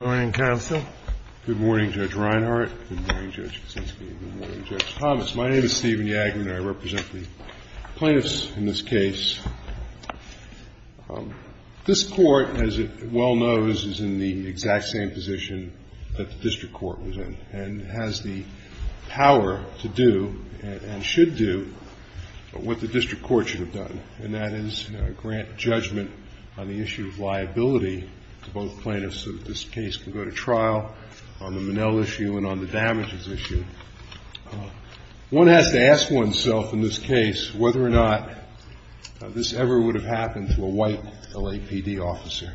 Good morning, Counsel. Good morning, Judge Reinhart. Good morning, Judge Kuczynski. Good morning, Judge Thomas. My name is Stephen Yagler, and I represent the plaintiffs in this case. This Court, as it well knows, is in the exact same position that the District Court was in and has the power to do and should do what the District Court should have done, and that is grant judgment on the issue of liability to both plaintiffs so that this case can go to trial on the Manel issue and on the damages issue. One has to ask oneself in this case whether or not this ever would have happened to a white LAPD officer.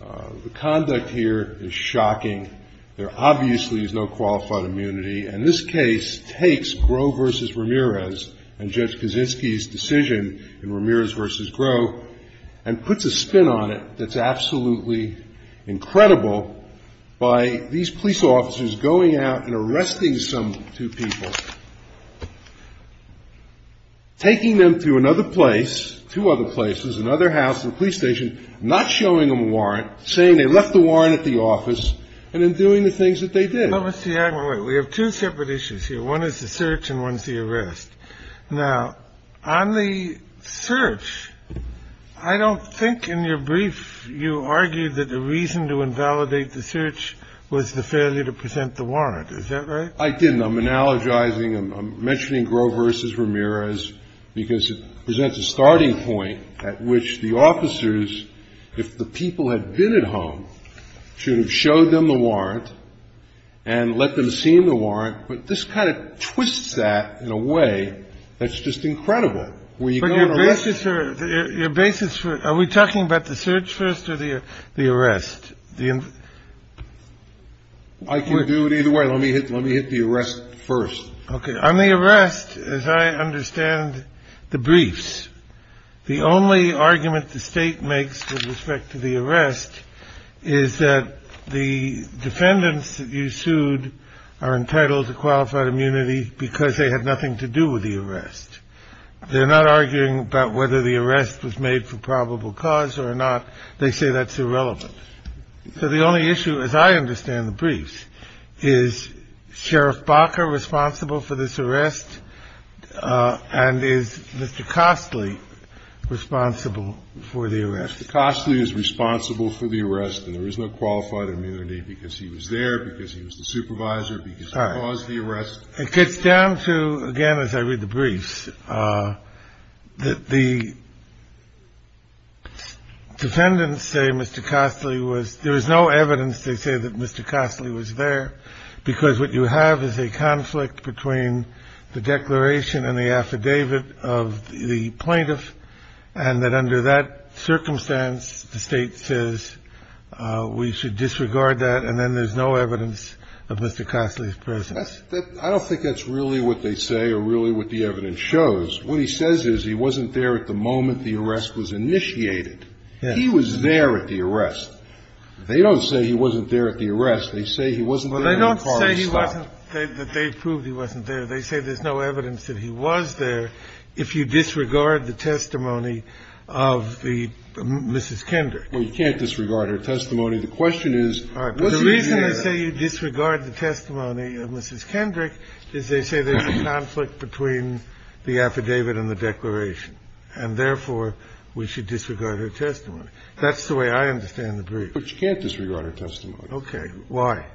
The conduct here is shocking. There obviously is no qualified immunity, and this case takes Groh v. Ramirez and Judge versus Groh, and puts a spin on it that's absolutely incredible by these police officers going out and arresting some two people, taking them to another place, two other places, another house, another police station, not showing them a warrant, saying they left the warrant at the office, and then doing the things that they did. Let me see. Wait. We have two separate issues here. One is the search, and one is the arrest. Now, on the search, I don't think in your brief you argued that the reason to invalidate the search was the failure to present the warrant. Is that right? I didn't. I'm analogizing. I'm mentioning Groh v. Ramirez because it presents a starting point at which the officers, if the people had been at home, should have showed them the warrant and let them see the way. That's just incredible. But your basis for – are we talking about the search first or the arrest? I can do it either way. Let me hit the arrest first. Okay. On the arrest, as I understand the briefs, the only argument the State makes with respect to the arrest is that the defendants that you sued are entitled to qualified immunity because they had nothing to do with the arrest. They're not arguing about whether the arrest was made for probable cause or not. They say that's irrelevant. So the only issue, as I understand the briefs, is Sheriff Baca responsible for this arrest and is Mr. Costley responsible for the arrest? Mr. Costley is responsible for the arrest, and there is no qualified immunity because he was there, because he was the supervisor, because he caused the arrest. It gets down to, again, as I read the briefs, that the defendants say Mr. Costley was – there is no evidence they say that Mr. Costley was there because what you have is a conflict between the declaration and the affidavit of the plaintiff, and that under that circumstance the State says we should disregard that, and then there's no evidence of Mr. Costley's presence. I don't think that's really what they say or really what the evidence shows. What he says is he wasn't there at the moment the arrest was initiated. He was there at the arrest. They don't say he wasn't there at the arrest. They say he wasn't there when the car was stopped. Well, they don't say he wasn't – that they proved he wasn't there. They say there's no evidence that he was there if you disregard the testimony of the – Mrs. Kendrick. Well, you can't disregard her testimony. The question is, was he there? What they say you disregard the testimony of Mrs. Kendrick is they say there's a conflict between the affidavit and the declaration, and therefore we should disregard her testimony. That's the way I understand the brief. But you can't disregard her testimony. Okay. Why?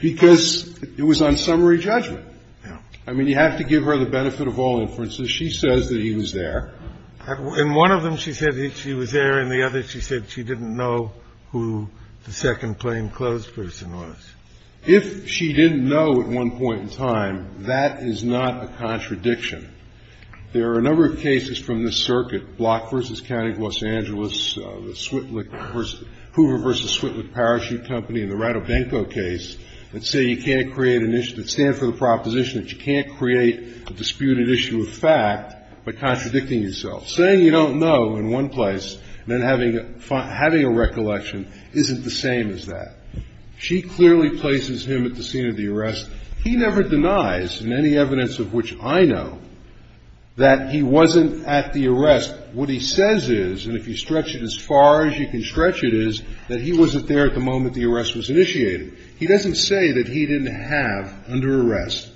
Because it was on summary judgment. Yeah. I mean, you have to give her the benefit of all inferences. She says that he was there. In one of them she said he – she was there, in the other she said she didn't know who the second-claim closed person was. If she didn't know at one point in time, that is not a contradiction. There are a number of cases from this circuit, Block v. County of Los Angeles, the Switlick – Hoover v. Switlick Parachute Company and the Radobenko case, that say you can't create an issue – that stand for the proposition that you can't create a disputed issue of fact by contradicting yourself. Saying you don't know in one place and then having a – having a recollection isn't the same as that. She clearly places him at the scene of the arrest. He never denies, in any evidence of which I know, that he wasn't at the arrest. What he says is, and if you stretch it as far as you can stretch it, is that he wasn't there at the moment the arrest was initiated. He doesn't say that he didn't have under arrest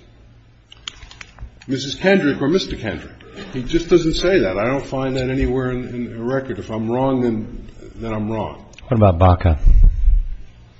Mrs. Kendrick or Mr. Kendrick. He just doesn't say that. I don't find that anywhere in the record. If I'm wrong, then I'm wrong. What about Baca?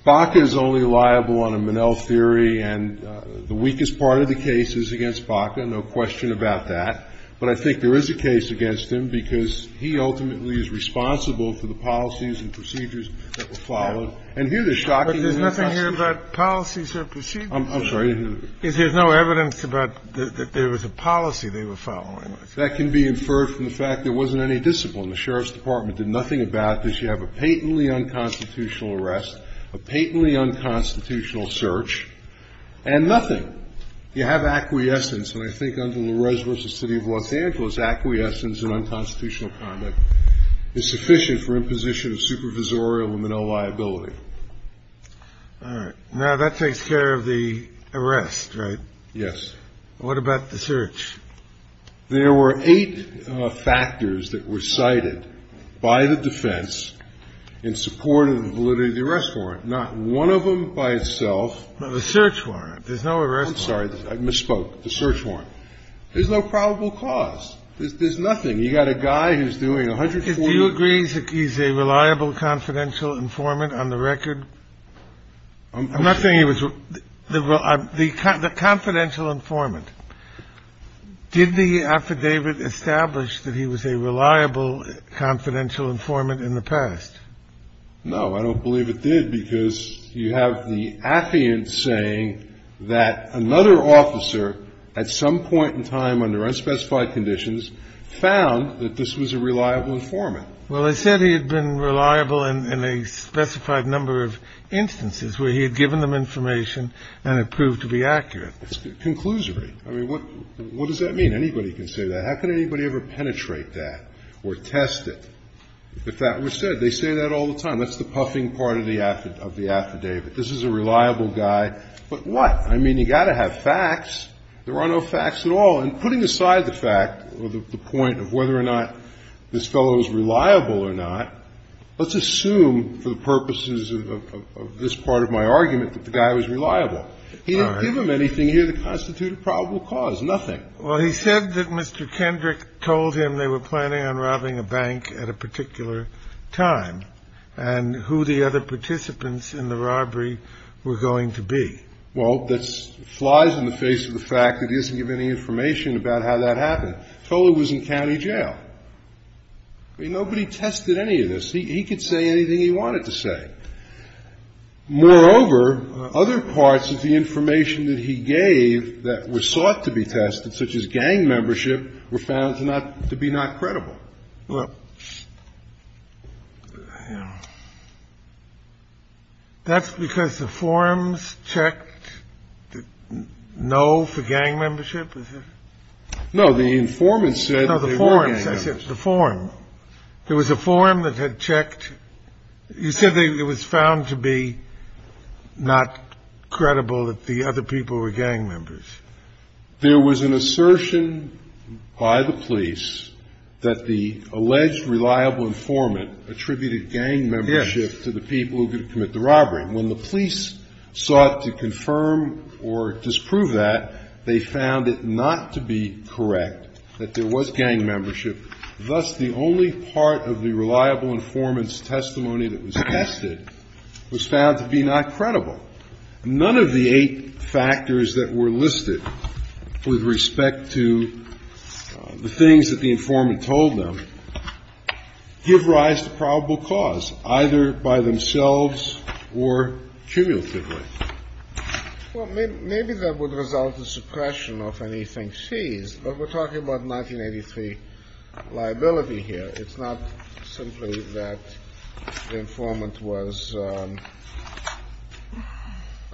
Baca is only liable on a Minnell theory, and the weakest part of the case is against Baca, no question about that. But I think there is a case against him because he ultimately is responsible for the policies and procedures that were followed. And here the shocking – But there's nothing here about policies or procedures. I'm sorry. There's no evidence about – that there was a policy they were following. That can be inferred from the fact there wasn't any discipline. The Sheriff's Department did nothing about this. You have a patently unconstitutional arrest, a patently unconstitutional search, and nothing. You have acquiescence, and I think under the Reservist of the City of Los Angeles, acquiescence in unconstitutional conduct is sufficient for imposition of supervisorial Minnell liability. All right. Now, that takes care of the arrest, right? Yes. What about the search? There were eight factors that were cited by the defense in support of the validity of the arrest warrant, not one of them by itself. The search warrant. There's no arrest warrant. I'm sorry. I misspoke. The search warrant. There's no probable cause. There's nothing. You've got a guy who's doing 140 – Do you agree he's a reliable, confidential informant on the record? I'm not saying he was – the confidential informant. Did the affidavit establish that he was a reliable, confidential informant in the past? No. I don't believe it did, because you have the affiant saying that another officer, at some point in time under unspecified conditions, found that this was a reliable informant. Well, they said he had been reliable in a specified number of instances where he had given them information and it proved to be accurate. Conclusory. I mean, what does that mean? Anybody can say that. How can anybody ever penetrate that or test it? If that were said, they say that all the time. That's the puffing part of the affidavit. This is a reliable guy. But what? I mean, you've got to have facts. There are no facts at all. And putting aside the fact or the point of whether or not this fellow was reliable or not, let's assume for the purposes of this part of my argument that the guy was reliable. He didn't give them anything here that constituted probable cause, nothing. Well, he said that Mr. Kendrick told him they were planning on robbing a bank at a particular time and who the other participants in the robbery were going to be. Well, that flies in the face of the fact that he doesn't give any information about how that happened. He told them he was in county jail. I mean, nobody tested any of this. He could say anything he wanted to say. Moreover, other parts of the information that he gave that were sought to be tested, such as gang membership, were found to not to be not credible. Well, that's because the forums checked no for gang membership. No, the informants said the forums, the forum, there was a forum that had checked. You said it was found to be not credible that the other people were gang members. There was an assertion by the police that the alleged reliable informant attributed gang membership to the people who were going to commit the robbery. When the police sought to confirm or disprove that, they found it not to be correct that there was gang membership. Thus, the only part of the reliable informant's testimony that was tested was found to be not credible. None of the eight factors that were listed with respect to the things that the informant told them give rise to probable cause, either by themselves or cumulatively. Well, maybe that would result in suppression of anything seized. But we're talking about 1983 liability here. It's not simply that the informant was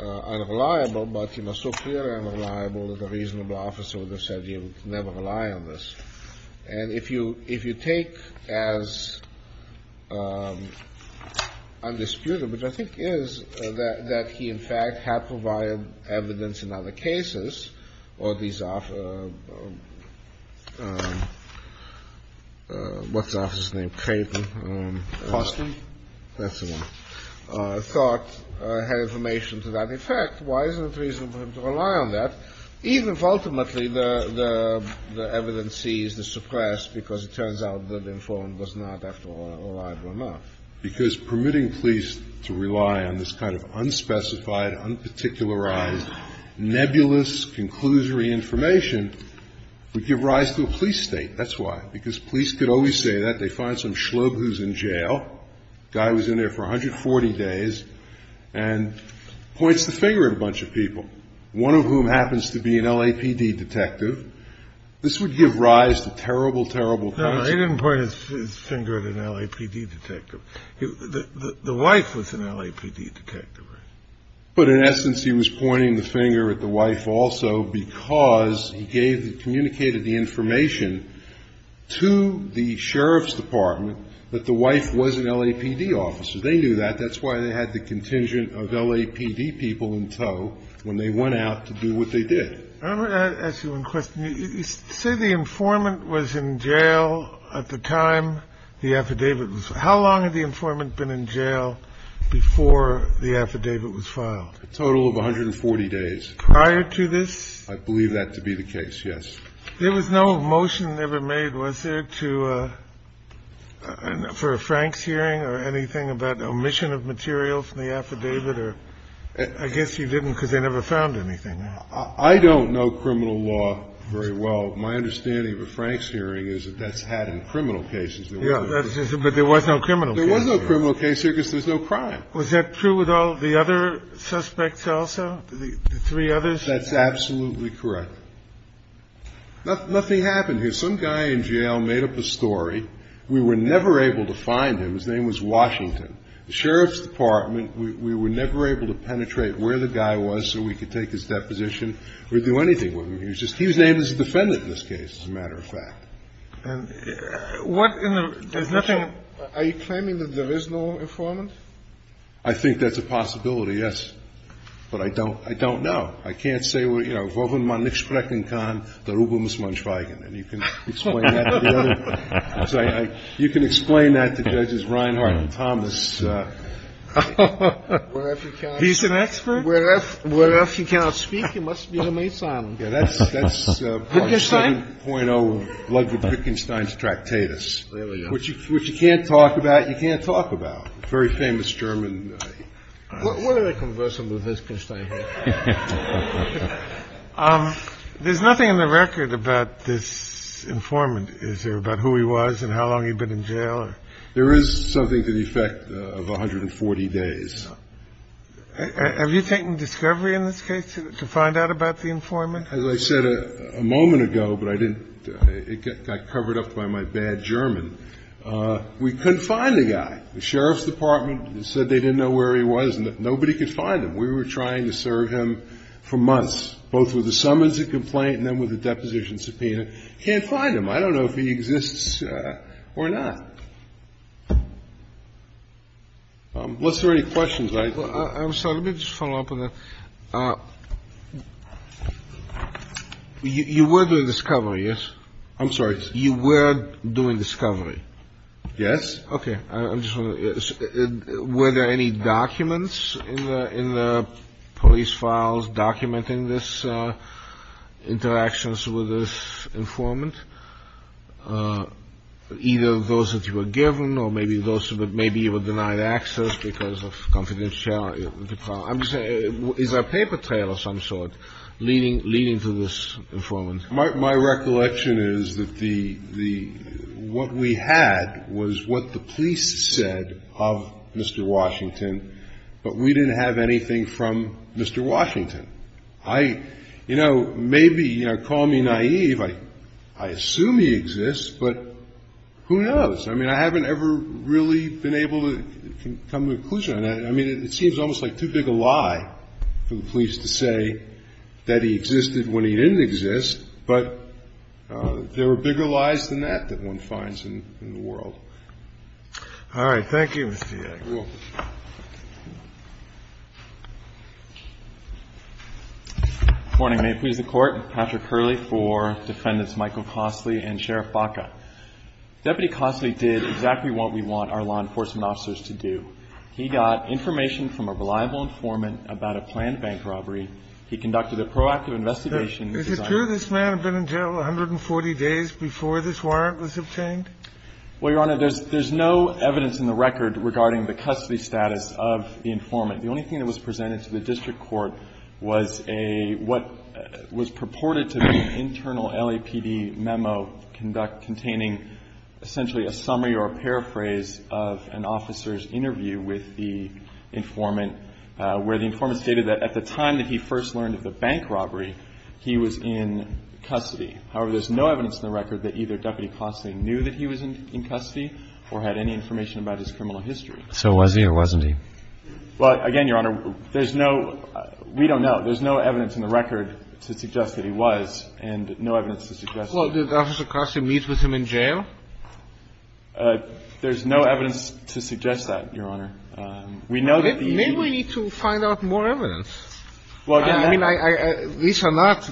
unreliable, but he was so clearly unreliable that a reasonable officer would have said you never rely on this. And if you take as undisputed, which I think is, that he in fact had provided evidence in other cases, or these officers, what's the officer's name? Crayton. That's the one. Thought had information to that effect, why isn't it reasonable for him to rely on that, even if ultimately the evidence seized is suppressed because it turns out that the informant was not, after all, reliable enough? Because permitting police to rely on this kind of unspecified, unparticularized, nebulous, conclusory information would give rise to a police state. That's why. Because police could always say that. They find some schlub who's in jail, guy who was in there for 140 days, and points the finger at a bunch of people, one of whom happens to be an LAPD detective. This would give rise to terrible, terrible consequences. Well, he didn't point his finger at an LAPD detective. The wife was an LAPD detective, right? But in essence, he was pointing the finger at the wife also because he gave, communicated the information to the sheriff's department that the wife was an LAPD officer. They knew that. That's why they had the contingent of LAPD people in tow when they went out to do what they did. I'm going to ask you one question. You say the informant was in jail at the time the affidavit was. How long had the informant been in jail before the affidavit was filed? A total of 140 days. Prior to this? I believe that to be the case, yes. There was no motion ever made, was there, for a Franks hearing or anything about omission of material from the affidavit? Or I guess you didn't because they never found anything. I don't know criminal law very well. My understanding of a Franks hearing is that that's had in criminal cases. Yeah, but there was no criminal. There was no criminal case here because there's no crime. Was that true with all the other suspects also, the three others? That's absolutely correct. Nothing happened here. Some guy in jail made up a story. We were never able to find him. His name was Washington. The sheriff's department, we were never able to penetrate where the guy was so we could take his deposition or do anything with him. He was named as a defendant in this case, as a matter of fact. Are you claiming that there is no informant? I think that's a possibility, yes. But I don't know. I can't say, you know, You can explain that to Judges Reinhardt and Thomas. He's an expert? Where if you cannot speak, you must be the maidservant. Yeah, that's 7.0 Ludwig Wittgenstein's Tractatus, which you can't talk about. You can't talk about. Very famous German. What are they conversing with Wittgenstein here? There's nothing in the record about this informant. Is there about who he was and how long he'd been in jail? There is something to the effect of 140 days. Have you taken discovery in this case to find out about the informant? As I said a moment ago, but I didn't – it got covered up by my bad German. We couldn't find the guy. The Sheriff's Department said they didn't know where he was and that nobody could find him. We were trying to serve him for months, both with a summons and complaint and then with a deposition subpoena. Can't find him. I don't know if he exists or not. Let's see if there are any questions. I'm sorry, let me just follow up on that. You were doing discovery, yes? I'm sorry. You were doing discovery? Yes. Okay. I'm just wondering, were there any documents in the police files documenting this interactions with this informant? Either those that you were given or maybe those that maybe you were denied access because of confidentiality. I'm just saying, is there a paper trail of some sort leading to this informant? My recollection is that the – what we had was what the police said of Mr. Washington, but we didn't have anything from Mr. Washington. I – you know, maybe, you know, call me naive, I assume he exists, but who knows? I mean, I haven't ever really been able to come to a conclusion on that. I mean, it seems almost like too big a lie for the police to say that he existed when he didn't exist, but there are bigger lies than that that one finds in the world. All right. Thank you, Mr. Yank. Thank you. Good morning. May it please the Court. Patrick Hurley for Defendants Michael Cossley and Sheriff Baca. Deputy Cossley did exactly what we want our law enforcement officers to do. He got information from a reliable informant about a planned bank robbery. He conducted a proactive investigation. Is it true this man had been in jail 140 days before this warrant was obtained? Well, Your Honor, there's no evidence in the record regarding the custody status of the informant. The only thing that was presented to the district court was a – what was purported to be an internal LAPD memo containing essentially a summary or a paraphrase of an officer's interview with the informant, where the informant stated that at the time that he first learned of the bank robbery, he was in custody. However, there's no evidence in the record that either Deputy Cossley knew that he was in custody or had any information about his criminal history. So was he or wasn't he? Well, again, Your Honor, there's no – we don't know. There's no evidence in the record to suggest that he was and no evidence to suggest that he was. Well, did Officer Cossley meet with him in jail? There's no evidence to suggest that, Your Honor. We know that the – Maybe we need to find out more evidence. Well, again, that – These are not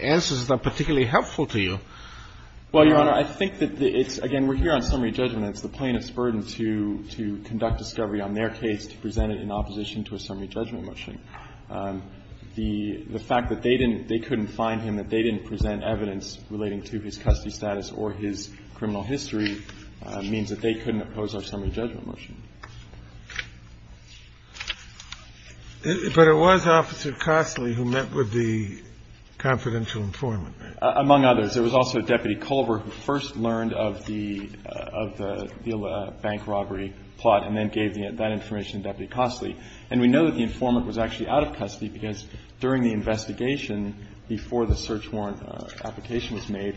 answers that are particularly helpful to you. Well, Your Honor, I think that it's – again, we're here on summary judgment. It's the plaintiff's burden to conduct discovery on their case to present it in opposition to a summary judgment motion. The fact that they didn't – they couldn't find him, that they didn't present evidence relating to his custody status or his criminal history means that they couldn't oppose our summary judgment motion. But it was Officer Cossley who met with the confidential informant, right? Among others. There was also Deputy Culver who first learned of the – of the bank robbery plot and then gave that information to Deputy Cossley. And we know that the informant was actually out of custody because during the investigation before the search warrant application was made,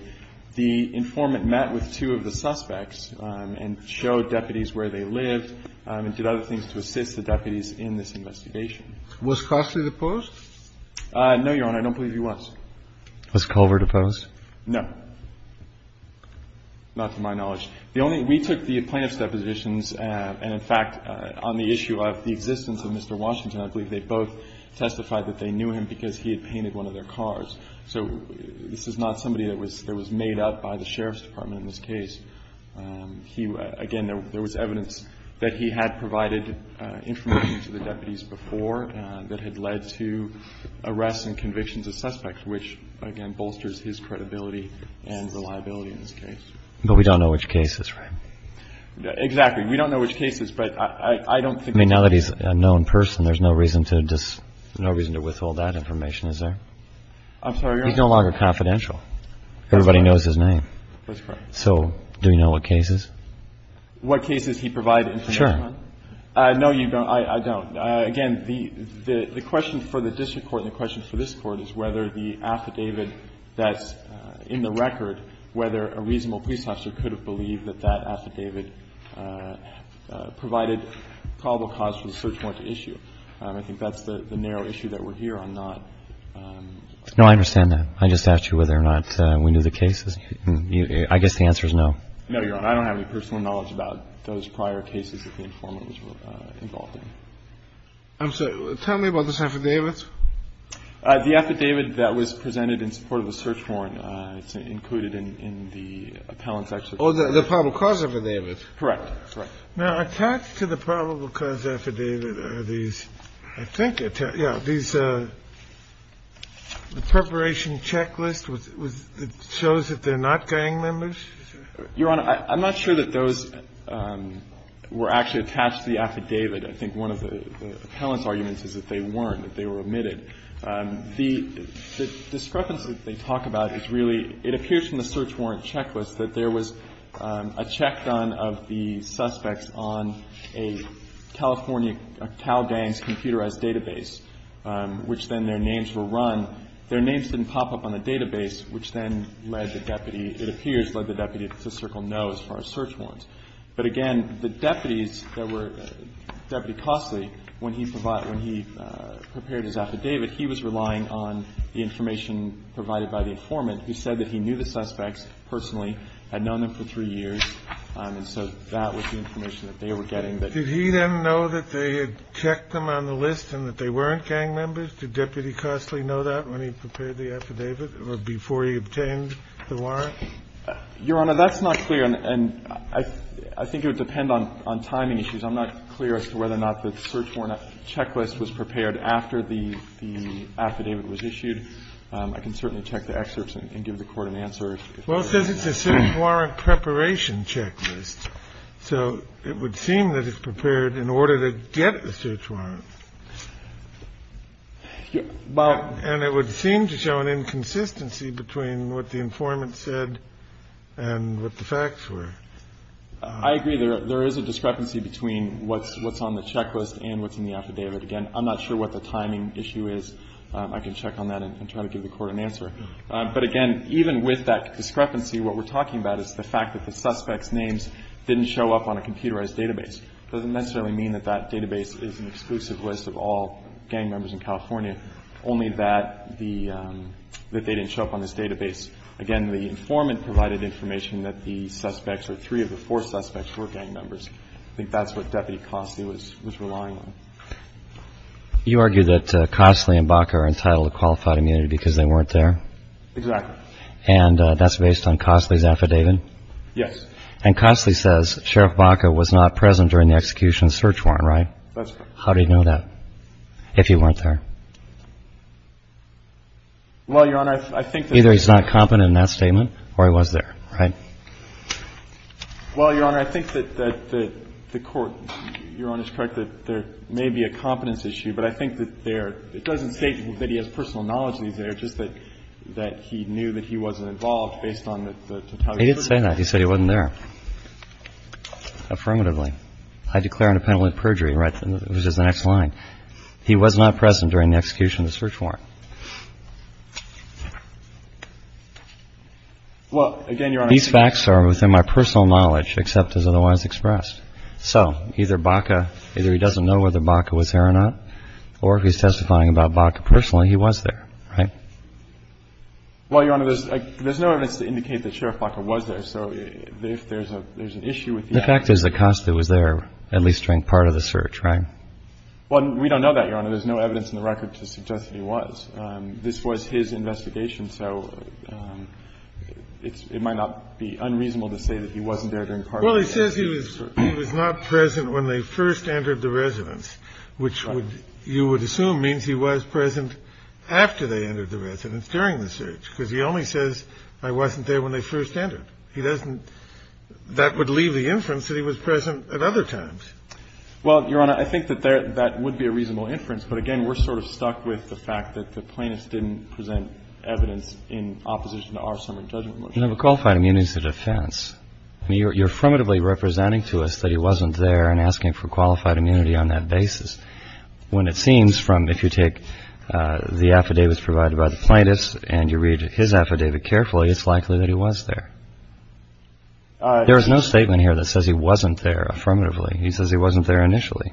the informant met with two of the suspects and showed deputies where they lived and did other things to assist the deputies in this investigation. Was Cossley deposed? No, Your Honor. I don't believe he was. Was Culver deposed? No. Not to my knowledge. The only – we took the plaintiff's depositions and, in fact, on the issue of the existence of Mr. Washington, I believe they both testified that they knew him because he had painted one of their cars. So this is not somebody that was – that was made up by the Sheriff's Department in this case. He – again, there was evidence that he had provided information to the deputies before that had led to arrests and convictions of suspects, which, again, bolsters his credibility and reliability in this case. But we don't know which case is, right? Exactly. We don't know which case is, but I don't think – I mean, now that he's a known person, there's no reason to withhold that information, is there? I'm sorry, Your Honor. He's no longer confidential. Everybody knows his name. That's correct. So do we know what case is? What case is he provided information on? Sure. No, you don't. I don't. Again, the question for the district court and the question for this Court is whether the affidavit that's in the record, whether a reasonable police officer could have believed that that affidavit provided probable cause for the search warrant to issue. I think that's the narrow issue that we're here on, not – No, I understand that. I just asked you whether or not we knew the cases. I guess the answer is no. No, Your Honor. I don't have any personal knowledge about those prior cases that the informant was involved in. I'm sorry. Tell me about this affidavit. The affidavit that was presented in support of the search warrant. It's included in the appellant's actual – Oh, the probable cause affidavit. Correct. Correct. Now, attached to the probable cause affidavit are these, I think – yeah, these are the – the preparation checklist with – that shows that they're not gang members? Your Honor, I'm not sure that those were actually attached to the affidavit. I think one of the appellant's arguments is that they weren't, that they were omitted. The discrepancy that they talk about is really – it appears from the search warrant checklist that there was a check done of the suspects on a California Cal Gangs database, which then their names were run. Their names didn't pop up on the database, which then led the deputy – it appears led the deputy to circle no as far as search warrants. But again, the deputies that were – Deputy Costley, when he prepared his affidavit, he was relying on the information provided by the informant, who said that he knew the suspects personally, had known them for three years, and so that was the information that they were getting. Did he then know that they had checked them on the list and that they weren't gang members? Did Deputy Costley know that when he prepared the affidavit or before he obtained the warrant? Your Honor, that's not clear. And I think it would depend on timing issues. I'm not clear as to whether or not the search warrant checklist was prepared after the affidavit was issued. I can certainly check the excerpts and give the Court an answer. Well, it says it's a search warrant preparation checklist, so it would seem that it was prepared in order to get a search warrant. And it would seem to show an inconsistency between what the informant said and what the facts were. I agree. There is a discrepancy between what's on the checklist and what's in the affidavit. Again, I'm not sure what the timing issue is. I can check on that and try to give the Court an answer. But again, even with that discrepancy, what we're talking about is the fact that the suspects' names didn't show up on a computerized database. It doesn't necessarily mean that that database is an exclusive list of all gang members in California, only that they didn't show up on this database. Again, the informant provided information that the suspects or three of the four suspects were gang members. I think that's what Deputy Costley was relying on. You argue that Costley and Baca are entitled to qualified immunity because they weren't there? Exactly. And that's based on Costley's affidavit? Yes. And Costley says Sheriff Baca was not present during the execution of the search warrant, right? That's correct. How do you know that, if he weren't there? Well, Your Honor, I think that... Either he's not competent in that statement or he was there, right? Well, Your Honor, I think that the Court, Your Honor's correct that there may be a competence issue, but I think that there... It doesn't state that he has personal knowledge that he's there, just that he knew that he wasn't involved based on the totality of the search warrant. He didn't say that. He said he wasn't there. Affirmatively. I declare an appellate perjury, which is the next line. He was not present during the execution of the search warrant. Well, again, Your Honor... These facts are within my personal knowledge, except as otherwise expressed. So either Baca, either he doesn't know whether Baca was there or not, or if he's testifying about Baca personally, he was there, right? Well, Your Honor, there's no evidence to indicate that Sheriff Baca was there. So if there's an issue with the... The fact is Acosta was there at least during part of the search, right? Well, we don't know that, Your Honor. There's no evidence in the record to suggest that he was. This was his investigation, so it might not be unreasonable to say that he wasn't there during part of the search. Well, he says he was not present when they first entered the residence, which you would assume means he was present after they entered the residence, during the search, because he only says, I wasn't there when they first entered. He doesn't... That would leave the inference that he was present at other times. Well, Your Honor, I think that that would be a reasonable inference, but again, we're sort of stuck with the fact that the plaintiffs didn't present evidence in opposition to our summary judgment motion. You know, the qualified immunity is a defense. I mean, you're affirmatively representing to us that he wasn't there and asking for qualified immunity on that basis, when it seems from if you take the affidavits provided by the plaintiffs and you read his affidavit carefully, it's likely that he was there. There is no statement here that says he wasn't there affirmatively. He says he wasn't there initially.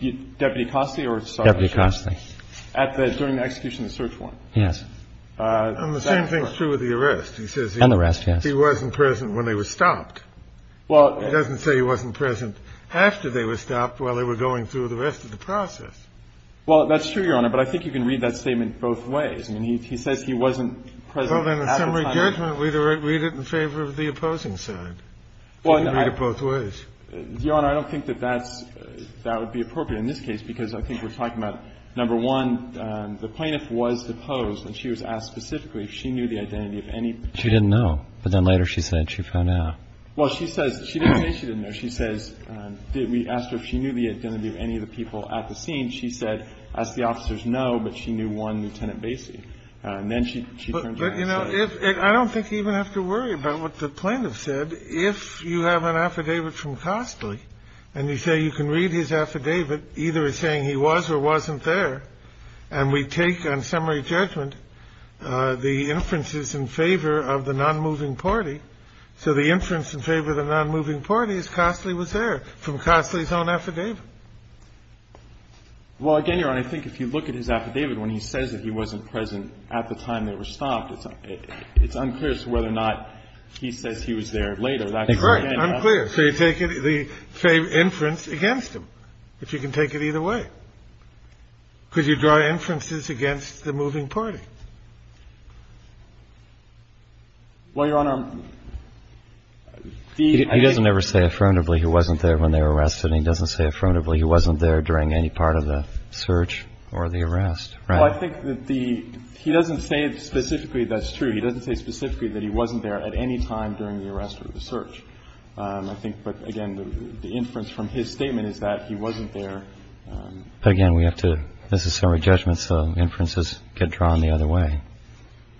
Deputy Costi or... Deputy Costi. During the execution of the search warrant. Yes. And the same thing is true with the arrest. He says he... And the arrest, yes. He wasn't present when they were stopped. Well... It doesn't say he wasn't present after they were stopped while they were going through the rest of the process. Well, that's true, Your Honor, but I think you can read that statement both ways. I mean, he says he wasn't present at the time... Well, then, in summary judgment, we'd read it in favor of the opposing side. Well, I... You can read it both ways. Your Honor, I don't think that that's – that would be appropriate in this case, because I think we're talking about, number one, the plaintiff was deposed and she was asked specifically if she knew the identity of any... She didn't know, but then later she said she found out. Well, she says – she didn't say she didn't know. She says – we asked her if she knew the identity of any of the people at the scene. She said, asked the officers, no, but she knew one, Lieutenant Basie. And then she turned around. But, you know, I don't think you even have to worry about what the plaintiff said. If you have an affidavit from Costley and you say you can read his affidavit, either as saying he was or wasn't there, and we take on summary judgment the inferences in favor of the nonmoving party, so the inference in favor of the nonmoving party is Costley was there from Costley's own affidavit. Well, again, Your Honor, I think if you look at his affidavit, when he says that he was there, it's unclear as to whether or not he says he was there later. That's right. Unclear. So you take the inference against him, if you can take it either way, because you draw inferences against the moving party. Well, Your Honor, the... He doesn't ever say affirmatively he wasn't there when they were arrested. He doesn't say affirmatively he wasn't there during any part of the search or the arrest, right? Well, I think that the he doesn't say specifically that's true. He doesn't say specifically that he wasn't there at any time during the arrest or the search. I think, but again, the inference from his statement is that he wasn't there. But again, we have to, this is summary judgment, so inferences get drawn the other way.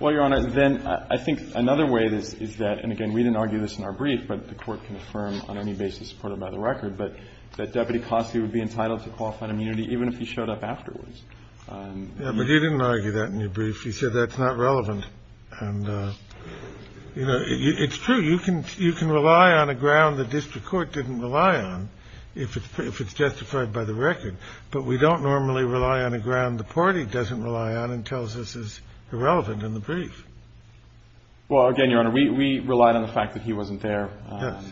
Well, Your Honor, then I think another way is that, and again, we didn't argue this in our brief, but the Court can affirm on any basis supported by the record, but that Deputy Costley would be entitled to qualified immunity even if he showed up afterwards. Yeah, but you didn't argue that in your brief. You said that's not relevant. And, you know, it's true. You can rely on a ground the district court didn't rely on if it's justified by the record. But we don't normally rely on a ground the party doesn't rely on and tells us is irrelevant in the brief. Well, again, Your Honor, we relied on the fact that he wasn't there. Yes.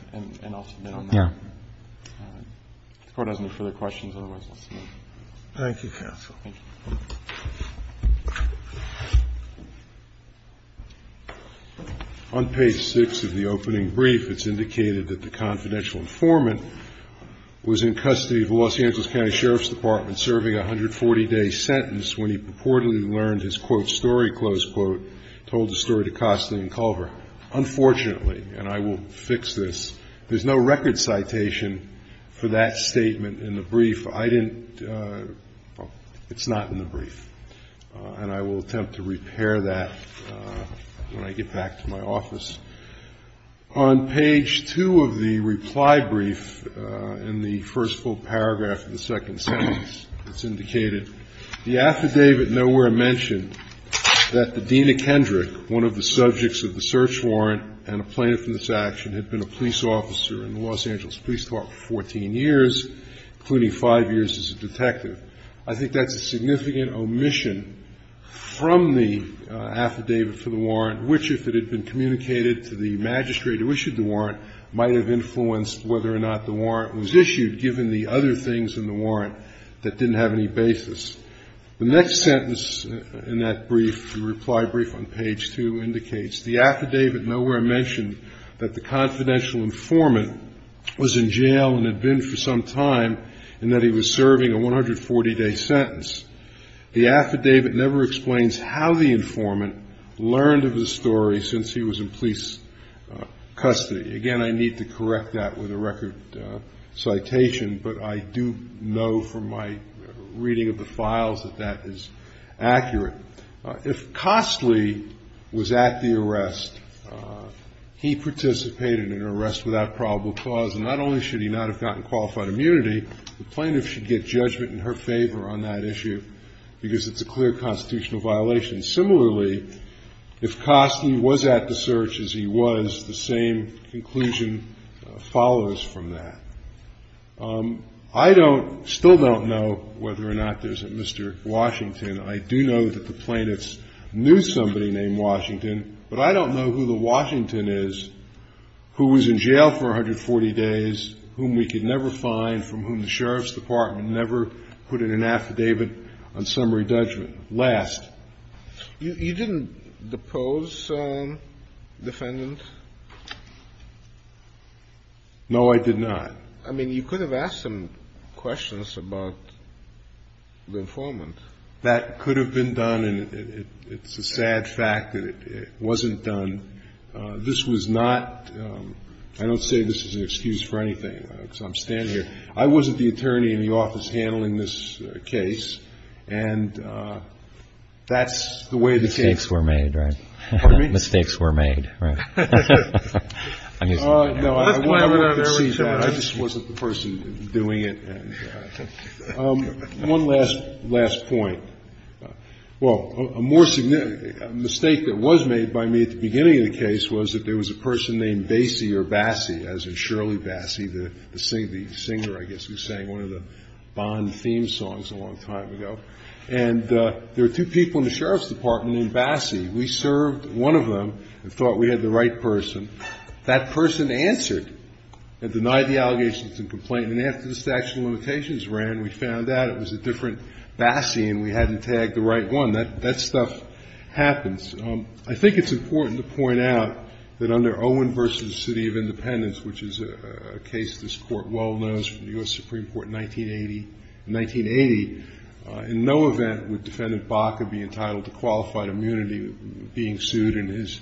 Otherwise, let's move. Thank you, counsel. On page 6 of the opening brief, it's indicated that the confidential informant was in custody of the Los Angeles County Sheriff's Department serving a 140-day sentence when he purportedly learned his, quote, story, close quote, told the story to Costley and Culver. Unfortunately, and I will fix this, there's no record citation for that statement in the brief. I didn't, it's not in the brief. And I will attempt to repair that when I get back to my office. On page 2 of the reply brief in the first full paragraph of the second sentence, it's indicated, the affidavit nowhere mentioned that the Dean of Kendrick, one of the subjects of the search warrant and a plaintiff in this action, had been a detective. I think that's a significant omission from the affidavit for the warrant, which, if it had been communicated to the magistrate who issued the warrant, might have influenced whether or not the warrant was issued, given the other things in the warrant that didn't have any basis. The next sentence in that brief, the reply brief on page 2, indicates, the affidavit nowhere mentioned that the confidential informant was in jail and had been for some time, and that he was serving a 140-day sentence. The affidavit never explains how the informant learned of the story since he was in police custody. Again, I need to correct that with a record citation, but I do know from my reading of the files that that is accurate. If Costley was at the arrest, he participated in an arrest without probable cause, and not only should he not have gotten qualified immunity, the plaintiff should get judgment in her favor on that issue, because it's a clear constitutional violation. Similarly, if Costley was at the search, as he was, the same conclusion follows from that. I don't, still don't know whether or not there's a Mr. Washington. I do know that the plaintiffs knew somebody named Washington, but I don't know who the Washington is, who was in jail for 140 days, whom we could never find, from whom the Sheriff's Department never put in an affidavit on summary judgment. Last. You didn't depose the defendant? No, I did not. I mean, you could have asked him questions about the informant. That could have been done, and it's a sad fact that it wasn't done. This was not, I don't say this is an excuse for anything, because I'm standing here. I wasn't the attorney in the office handling this case, and that's the way the case was. Mistakes were made, right? Pardon me? Mistakes were made, right? I'm just. No, I just wasn't the person doing it. And one last point. Well, a more significant mistake that was made by me at the beginning of the case was that there was a person named Bassey or Bassey, as in Shirley Bassey, the singer, I guess, who sang one of the Bond theme songs a long time ago. And there were two people in the Sheriff's Department named Bassey. We served one of them and thought we had the right person. That person answered and denied the allegations and complaint. And after the statute of limitations ran, we found out it was a different Bassey and we hadn't tagged the right one. That stuff happens. I think it's important to point out that under Owen v. City of Independence, which is a case this Court well knows from the U.S. Supreme Court in 1980, in no event would Defendant Baca be entitled to qualified immunity being sued in his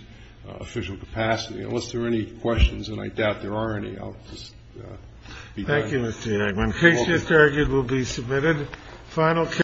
official capacity. Unless there are any questions, and I doubt there are any, I'll just be done. Thank you, Mr. Enigman. Case just argued will be submitted. Final.